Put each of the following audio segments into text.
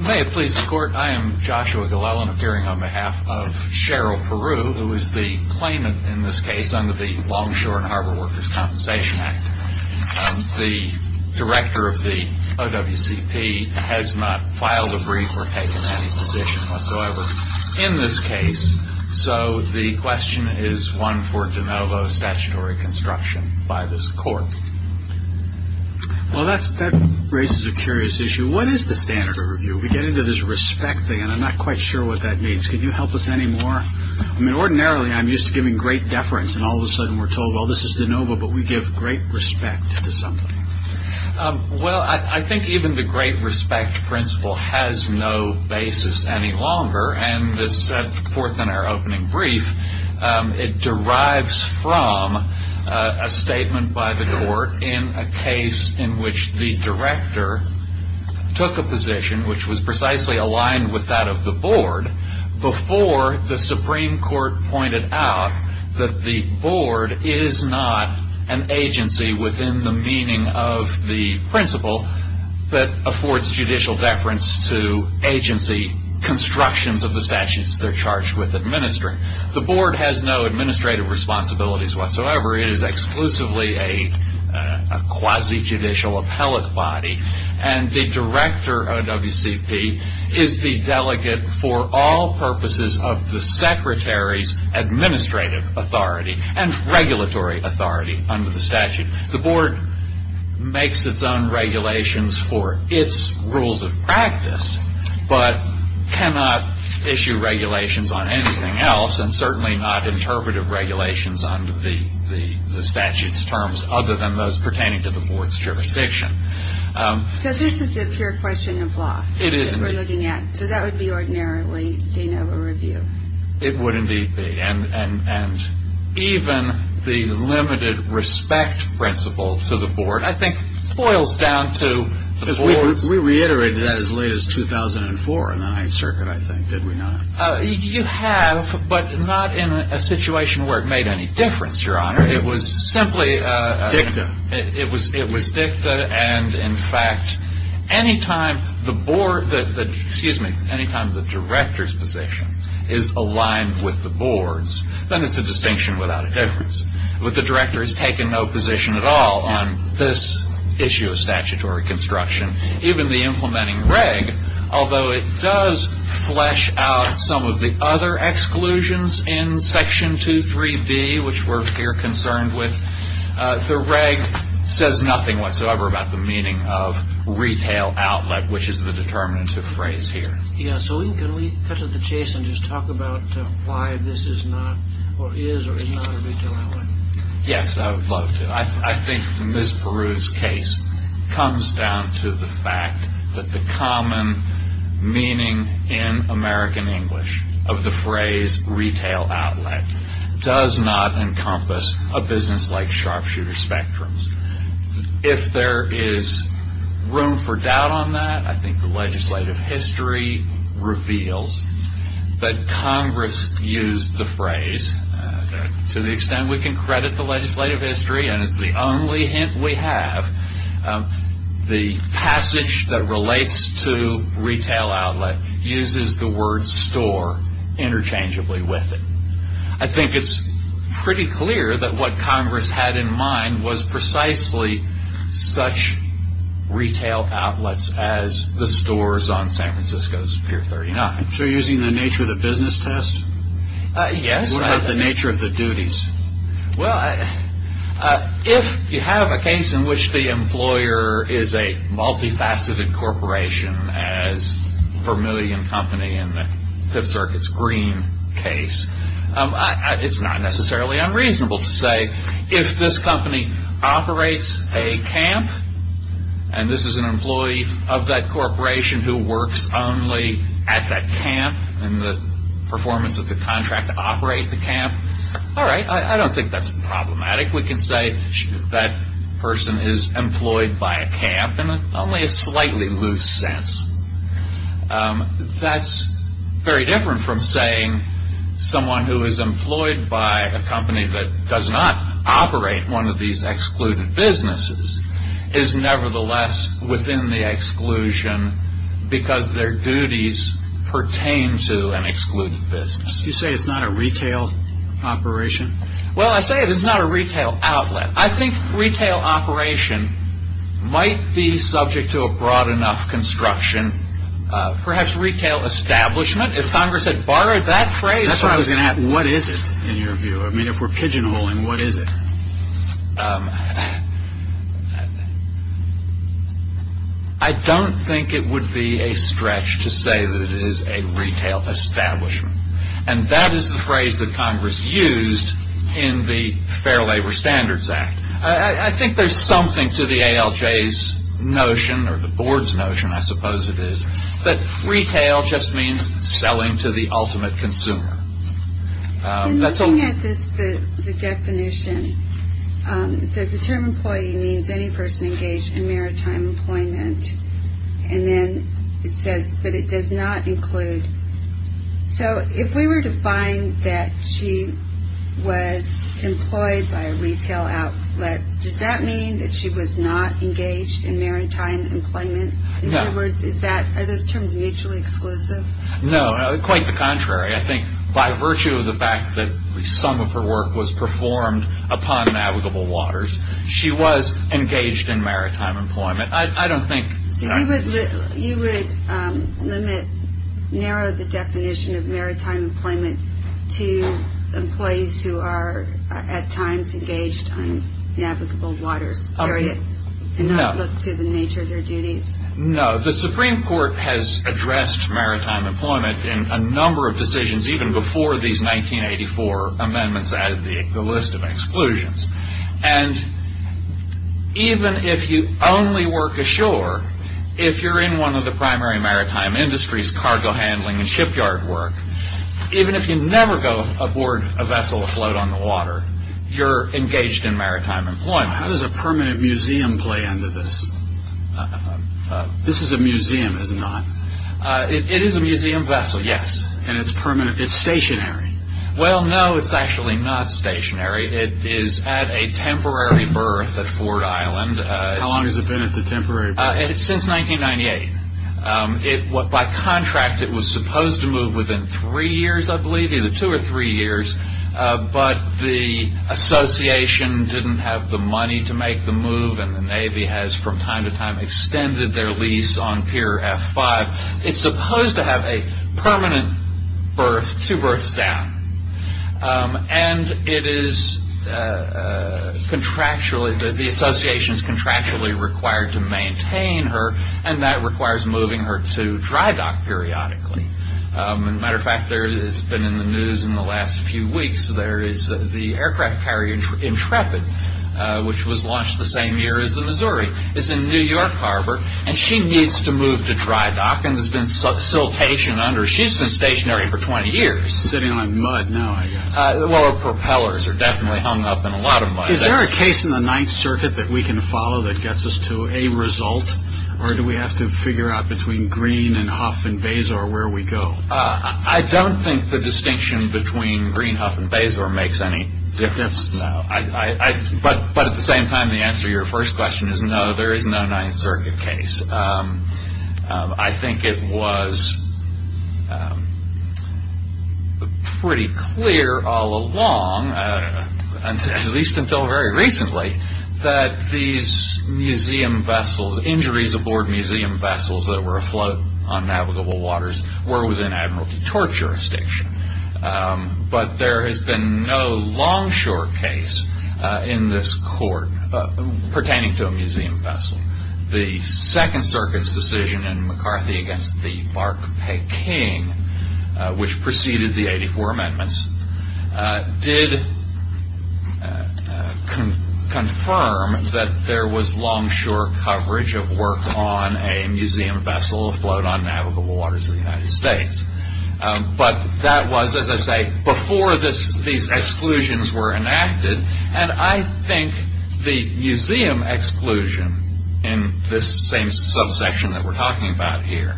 May it please the court, I am Joshua Glellen appearing on behalf of Cheryl Peru, who is the claimant in this case under the Longshore and Harbor Workers Compensation Act. The director of the OWCP has not filed a brief or taken any position whatsoever in this case, so the question is one for de novo statutory construction by this court. Well, that raises a curious issue. What is the standard of review? We get into this respect thing, and I'm not quite sure what that means. Can you help us any more? I mean, ordinarily, I'm used to giving great deference, and all of a sudden we're told, well, this is de novo, but we give great respect to something. Well, I think even the great respect principle has no basis any longer. And as set forth in our opening brief, it derives from a statement by the court in a case in which the director took a position which was precisely aligned with that of the board before the Supreme Court pointed out that the board is not an agency within the meaning of the principle that affords judicial deference to agency constructions of the statutes they're charged with administering. The board has no administrative responsibilities whatsoever. It is exclusively a quasi-judicial appellate body. And the director of WCP is the delegate for all purposes of the secretary's administrative authority and regulatory authority under the statute. The board makes its own regulations for its rules of practice but cannot issue regulations on anything else, and certainly not interpretive regulations under the statute's terms other than those pertaining to the board's jurisdiction. So this is a pure question of law that we're looking at? It is indeed. So that would be ordinarily de novo review? It would indeed be. And even the limited respect principle to the board, I think, boils down to the board's... We reiterated that as late as 2004 in the Ninth Circuit, I think, did we not? You have, but not in a situation where it made any difference, Your Honor. It was simply... Dicta. It was dicta, and in fact, any time the board... Excuse me. Any time the director's position is aligned with the board's, then it's a distinction without a difference. But the director has taken no position at all on this issue of statutory construction, even the implementing reg, although it does flesh out some of the other exclusions in Section 23B, which we're here concerned with. The reg says nothing whatsoever about the meaning of retail outlet, which is the determinative phrase here. Yeah, so can we cut to the chase and just talk about why this is not or is or is not a retail outlet? Yes, I would love to. I think Ms. Peru's case comes down to the fact that the common meaning in American English of the phrase retail outlet does not encompass a business like Sharpshooter Spectrums. If there is room for doubt on that, I think the legislative history reveals that Congress used the phrase to the extent we can credit the legislative history, and it's the only hint we have. The passage that relates to retail outlet uses the word store interchangeably with it. I think it's pretty clear that what Congress had in mind was precisely such retail outlets as the stores on San Francisco's Pier 39. So using the nature of the business test? Yes. What about the nature of the duties? Well, if you have a case in which the employer is a multifaceted corporation, as Vermillion Company in the Fifth Circuit's Green case, it's not necessarily unreasonable to say if this company operates a camp, and this is an employee of that corporation who works only at that camp and the performance of the contract to operate the camp, all right, I don't think that's problematic. We can say that person is employed by a camp in only a slightly loose sense. That's very different from saying someone who is employed by a company that does not operate one of these excluded businesses is nevertheless within the exclusion because their duties pertain to an excluded business. You say it's not a retail operation? Well, I say it is not a retail outlet. I think retail operation might be subject to a broad enough construction. Perhaps retail establishment, if Congress had borrowed that phrase. That's what I was going to ask. What is it in your view? I mean, if we're pigeonholing, what is it? I don't think it would be a stretch to say that it is a retail establishment, and that is the phrase that Congress used in the Fair Labor Standards Act. I think there's something to the ALJ's notion or the board's notion, I suppose it is, that retail just means selling to the ultimate consumer. Looking at the definition, it says the term employee means any person engaged in maritime employment, and then it says, but it does not include. So if we were to find that she was employed by a retail outlet, does that mean that she was not engaged in maritime employment? In other words, are those terms mutually exclusive? No, quite the contrary. I think by virtue of the fact that some of her work was performed upon navigable waters, she was engaged in maritime employment. So you would narrow the definition of maritime employment to employees who are at times engaged on navigable waters, period, and not look to the nature of their duties? No. The Supreme Court has addressed maritime employment in a number of decisions, even before these 1984 amendments added the list of exclusions. And even if you only work ashore, if you're in one of the primary maritime industries, cargo handling and shipyard work, even if you never go aboard a vessel afloat on the water, you're engaged in maritime employment. How does a permanent museum play into this? This is a museum, is it not? It is a museum vessel, yes. And it's stationary? Well, no, it's actually not stationary. It is at a temporary berth at Ford Island. How long has it been at the temporary berth? Since 1998. By contract, it was supposed to move within three years, I believe, either two or three years. But the association didn't have the money to make the move, and the Navy has from time to time extended their lease on Pier F5. It's supposed to have a permanent berth, two berths down. And it is contractually, the association is contractually required to maintain her, and that requires moving her to dry dock periodically. As a matter of fact, it's been in the news in the last few weeks, there is the aircraft carrier Intrepid, which was launched the same year as the Missouri, is in New York Harbor, and she needs to move to dry dock, and there's been siltation under. So she's been stationary for 20 years. Sitting on mud now, I guess. Well, her propellers are definitely hung up in a lot of mud. Is there a case in the Ninth Circuit that we can follow that gets us to a result, or do we have to figure out between Greene and Hough and Bezor where we go? I don't think the distinction between Greene, Hough, and Bezor makes any difference. But at the same time, the answer to your first question is no, there is no Ninth Circuit case. I think it was pretty clear all along, at least until very recently, that these museum vessels, injuries aboard museum vessels that were afloat on navigable waters, were within Admiralty Torch jurisdiction. But there has been no Longshore case in this court pertaining to a museum vessel. The Second Circuit's decision in McCarthy against the Bark Pay King, which preceded the 84 Amendments, did confirm that there was Longshore coverage of work on a museum vessel afloat on navigable waters in the United States. But that was, as I say, before these exclusions were enacted, and I think the museum exclusion in this same subsection that we're talking about here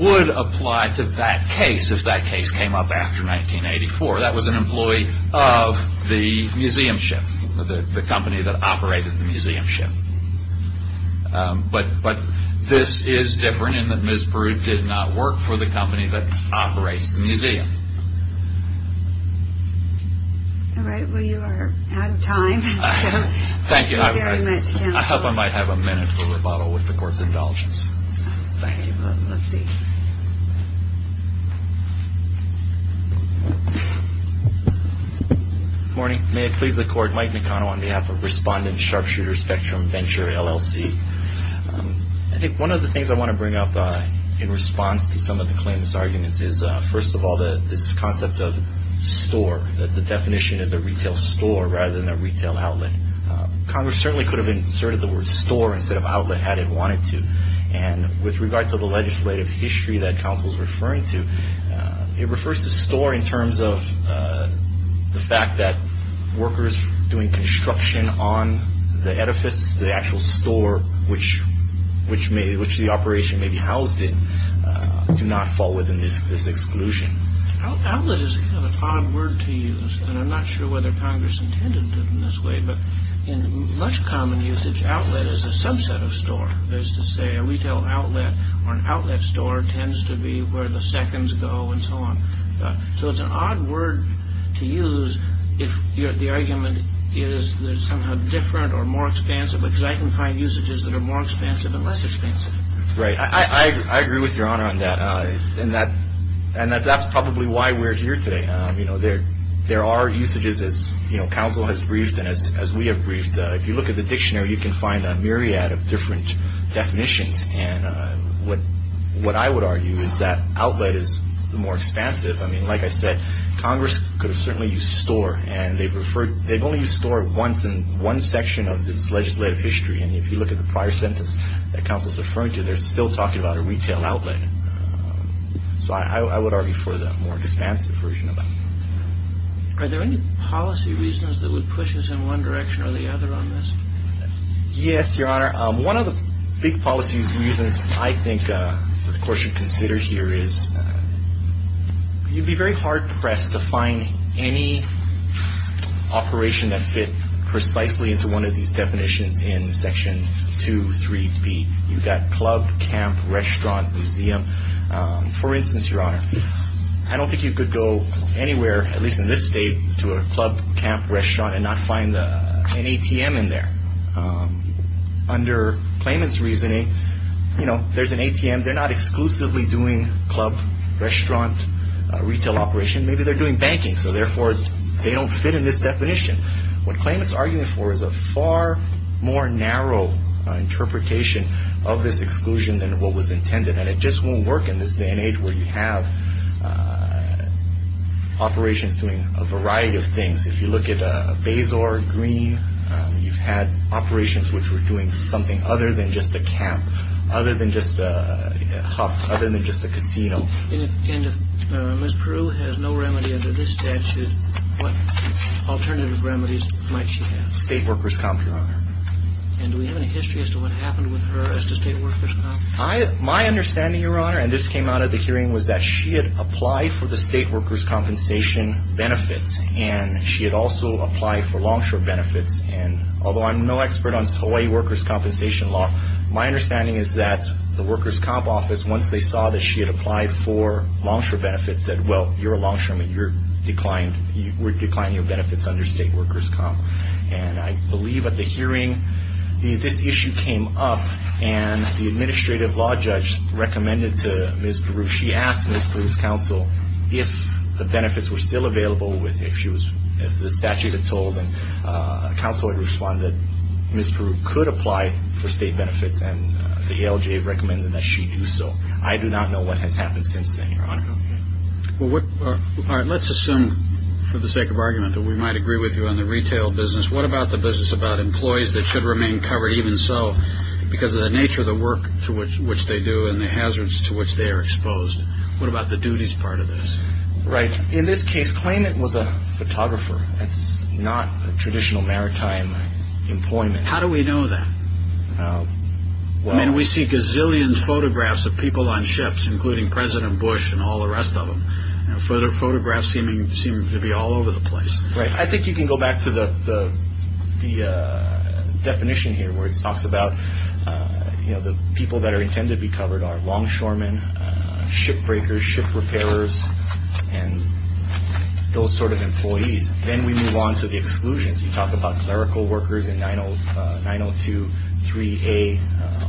would apply to that case if that case came up after 1984. That was an employee of the museum ship, the company that operated the museum ship. But this is different in that Ms. Brood did not work for the company that operates the museum. All right. Well, you are out of time. Thank you very much. I hope I might have a minute for rebuttal with the Court's indulgence. Thank you. Let's see. Good morning. May it please the Court. Mike McConnell on behalf of Respondent Sharpshooter Spectrum Venture, LLC. I think one of the things I want to bring up in response to some of the claimants' arguments is, first of all, this concept of store, that the definition is a retail store rather than a retail outlet. Congress certainly could have inserted the word store instead of outlet had it wanted to. And with regard to the legislative history that counsel is referring to, it refers to store in terms of the fact that workers doing construction on the edifice, the actual store which the operation may be housed in, do not fall within this exclusion. Outlet is an odd word to use. And I'm not sure whether Congress intended it in this way. But in much common usage, outlet is a subset of store. That is to say, a retail outlet or an outlet store tends to be where the seconds go and so on. So it's an odd word to use if the argument is somehow different or more expansive, because I can find usages that are more expansive and less expansive. Right. I agree with Your Honor on that. And that's probably why we're here today. There are usages, as counsel has briefed and as we have briefed, if you look at the dictionary you can find a myriad of different definitions. And what I would argue is that outlet is more expansive. I mean, like I said, Congress could have certainly used store. And they've only used store once in one section of this legislative history. And if you look at the prior sentence that counsel is referring to, they're still talking about a retail outlet. So I would argue for the more expansive version of that. Are there any policy reasons that would push us in one direction or the other on this? Yes, Your Honor. One of the big policy reasons I think the Court should consider here is you'd be very hard-pressed to find any operation that fit precisely into one of these definitions in Section 2.3b. You've got club, camp, restaurant, museum. For instance, Your Honor, I don't think you could go anywhere, at least in this state, to a club, camp, restaurant, and not find an ATM in there. Under claimant's reasoning, you know, there's an ATM. They're not exclusively doing club, restaurant, retail operation. Maybe they're doing banking, so therefore they don't fit in this definition. What claimant's arguing for is a far more narrow interpretation of this exclusion than what was intended. And it just won't work in this day and age where you have operations doing a variety of things. If you look at Bazor Green, you've had operations which were doing something other than just a camp, other than just a casino. And if Ms. Prew has no remedy under this statute, what alternative remedies might she have? State workers' comp, Your Honor. And do we have any history as to what happened with her as to state workers' comp? My understanding, Your Honor, and this came out at the hearing, was that she had applied for the state workers' compensation benefits, and she had also applied for longshore benefits. And although I'm no expert on Hawaii workers' compensation law, my understanding is that the workers' comp office, once they saw that she had applied for longshore benefits, said, well, you're a longshoreman. We're declining your benefits under state workers' comp. And I believe at the hearing, this issue came up, and the administrative law judge recommended to Ms. Prew, she asked Ms. Prew's counsel if the benefits were still available, if the statute had told, and counsel had responded that Ms. Prew could apply for state benefits, and the ALJ recommended that she do so. I do not know what has happened since then, Your Honor. All right. Let's assume, for the sake of argument, that we might agree with you on the retail business. What about the business about employees that should remain covered even so, because of the nature of the work to which they do and the hazards to which they are exposed? What about the duties part of this? Right. In this case, claimant was a photographer. That's not a traditional maritime employment. How do we know that? I mean, we see gazillions of photographs of people on ships, including President Bush and all the rest of them. Further photographs seem to be all over the place. Right. I think you can go back to the definition here, where it talks about the people that are intended to be covered are longshoremen, ship breakers, ship repairers, and those sort of employees. Then we move on to the exclusions. You talk about clerical workers and 9023A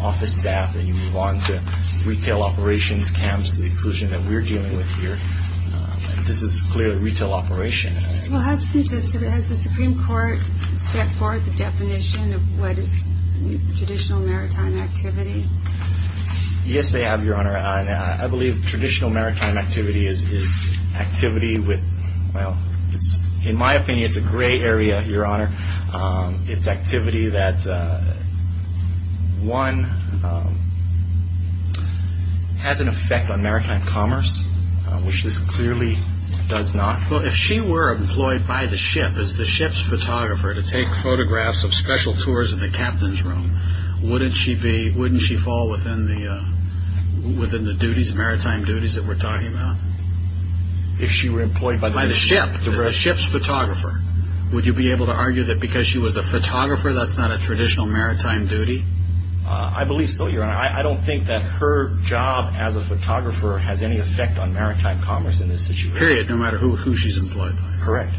office staff, and you move on to retail operations, camps, the exclusion that we're dealing with here. This is clearly a retail operation. Well, has the Supreme Court set forth a definition of what is traditional maritime activity? Yes, they have, Your Honor. I believe traditional maritime activity is activity with, well, in my opinion, it's a gray area, Your Honor. It's activity that, one, has an effect on maritime commerce, which this clearly does not. Well, if she were employed by the ship as the ship's photographer to take photographs of special tours in the captain's room, wouldn't she fall within the maritime duties that we're talking about? If she were employed by the ship as the ship's photographer, would you be able to argue that because she was a photographer that's not a traditional maritime duty? I believe so, Your Honor. I don't think that her job as a photographer has any effect on maritime commerce in this situation. Period, no matter who she's employed by. Correct.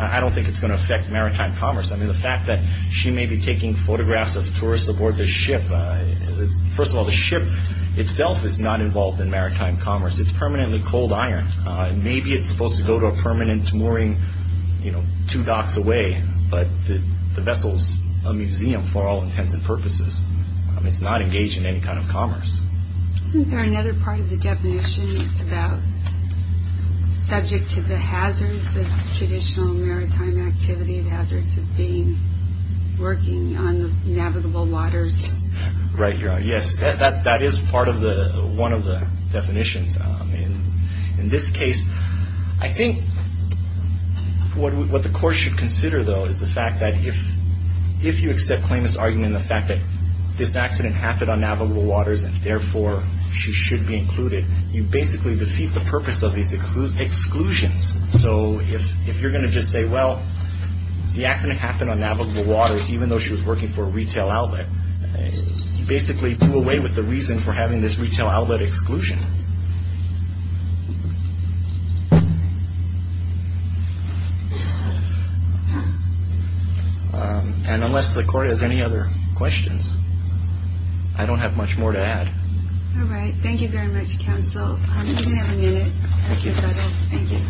I don't think it's going to affect maritime commerce. I mean, the fact that she may be taking photographs of tourists aboard the ship, first of all, the ship itself is not involved in maritime commerce. It's permanently cold iron. Maybe it's supposed to go to a permanent mooring two docks away, but the vessel's a museum for all intents and purposes. It's not engaged in any kind of commerce. Isn't there another part of the definition about subject to the hazards of traditional maritime activity, the hazards of working on navigable waters? Right, Your Honor. Yes, that is part of one of the definitions. In this case, I think what the court should consider, though, is the fact that if you accept Clayman's argument, the fact that this accident happened on navigable waters and, therefore, she should be included, you basically defeat the purpose of these exclusions. So if you're going to just say, well, the accident happened on navigable waters, even though she was working for a retail outlet, you basically do away with the reason for having this retail outlet exclusion. Thank you. And unless the court has any other questions, I don't have much more to add. All right. Thank you very much, counsel. You can have a minute. Thank you.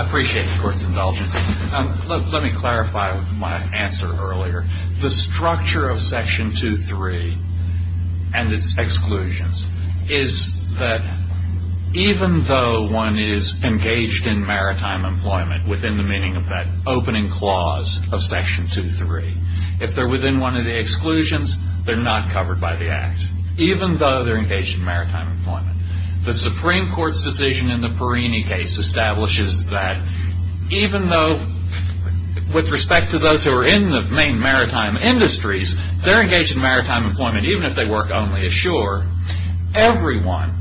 I appreciate the court's indulgence. Let me clarify my answer earlier. The structure of Section 2.3 and its exclusions is that even though one is engaged in maritime employment, within the meaning of that opening clause of Section 2.3, if they're within one of the exclusions, they're not covered by the Act, even though they're engaged in maritime employment. The Supreme Court's decision in the Perrini case establishes that even though, with respect to those who are in the main maritime industries, they're engaged in maritime employment even if they work only ashore. Everyone,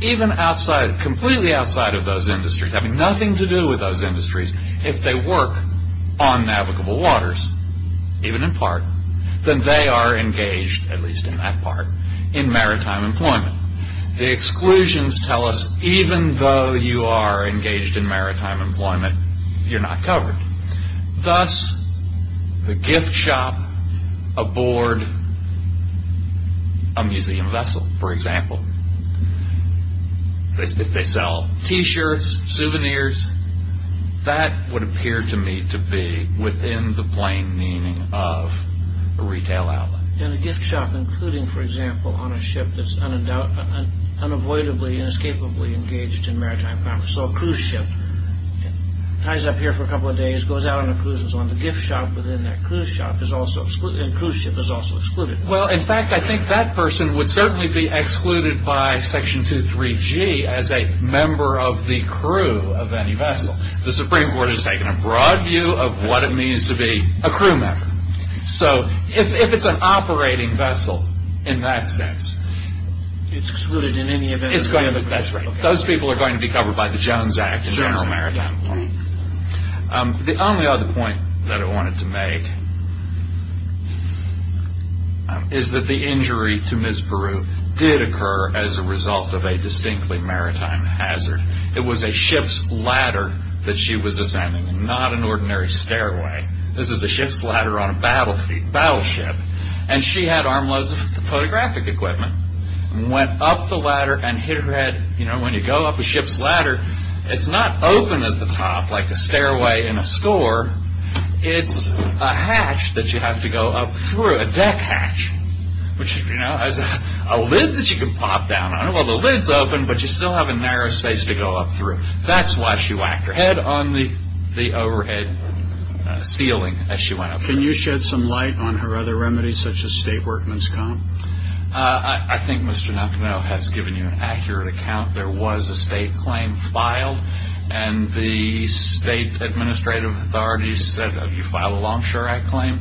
even outside, completely outside of those industries, having nothing to do with those industries, if they work on navigable waters, even in part, then they are engaged, at least in that part, in maritime employment. The exclusions tell us even though you are engaged in maritime employment, you're not covered. Thus, the gift shop aboard a museum vessel, for example, if they sell T-shirts, souvenirs, that would appear to me to be within the plain meaning of a retail outlet. In a gift shop, including, for example, on a ship that's unavoidably, inescapably engaged in maritime commerce, so a cruise ship ties up here for a couple of days, goes out on a cruise and so on, the gift shop within that cruise ship is also excluded. Well, in fact, I think that person would certainly be excluded by Section 2.3g as a member of the crew of any vessel. The Supreme Court has taken a broad view of what it means to be a crew member. If it's an operating vessel in that sense, It's excluded in any event? That's right. Those people are going to be covered by the Jones Act in general maritime employment. The only other point that I wanted to make is that the injury to Ms. Beru did occur as a result of a distinctly maritime hazard. It was a ship's ladder that she was ascending, not an ordinary stairway. This is a ship's ladder on a battleship, and she had armloads of photographic equipment and went up the ladder and hit her head. When you go up a ship's ladder, it's not open at the top like a stairway in a store. It's a hatch that you have to go up through, a deck hatch, which has a lid that you can pop down on. Well, the lid's open, but you still have a narrow space to go up through. That's why she whacked her head on the overhead ceiling as she went up there. Can you shed some light on her other remedies, such as statework, Ms. Cohn? I think Mr. Nakano has given you an accurate account. There was a state claim filed, and the state administrative authorities said, Have you filed a Longshore Act claim?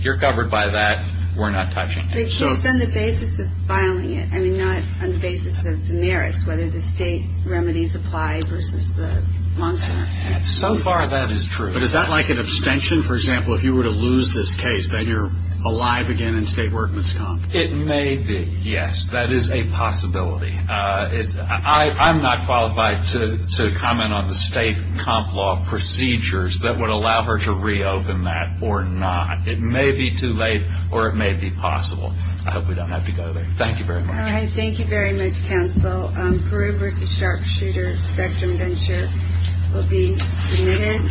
You're covered by that. We're not touching it. Just on the basis of filing it, I mean, not on the basis of the merits, whether the state remedies apply versus the Longshore Act. So far, that is true. But is that like an abstention, for example, if you were to lose this case, that you're alive again in state work, Ms. Cohn? It may be, yes. That is a possibility. I'm not qualified to comment on the state comp law procedures that would allow her to reopen that or not. It may be too late, or it may be possible. I hope we don't have to go there. Thank you very much. All right. Thank you very much, counsel. Peru v. Sharpshooter Spectrum Gunship will be submitted.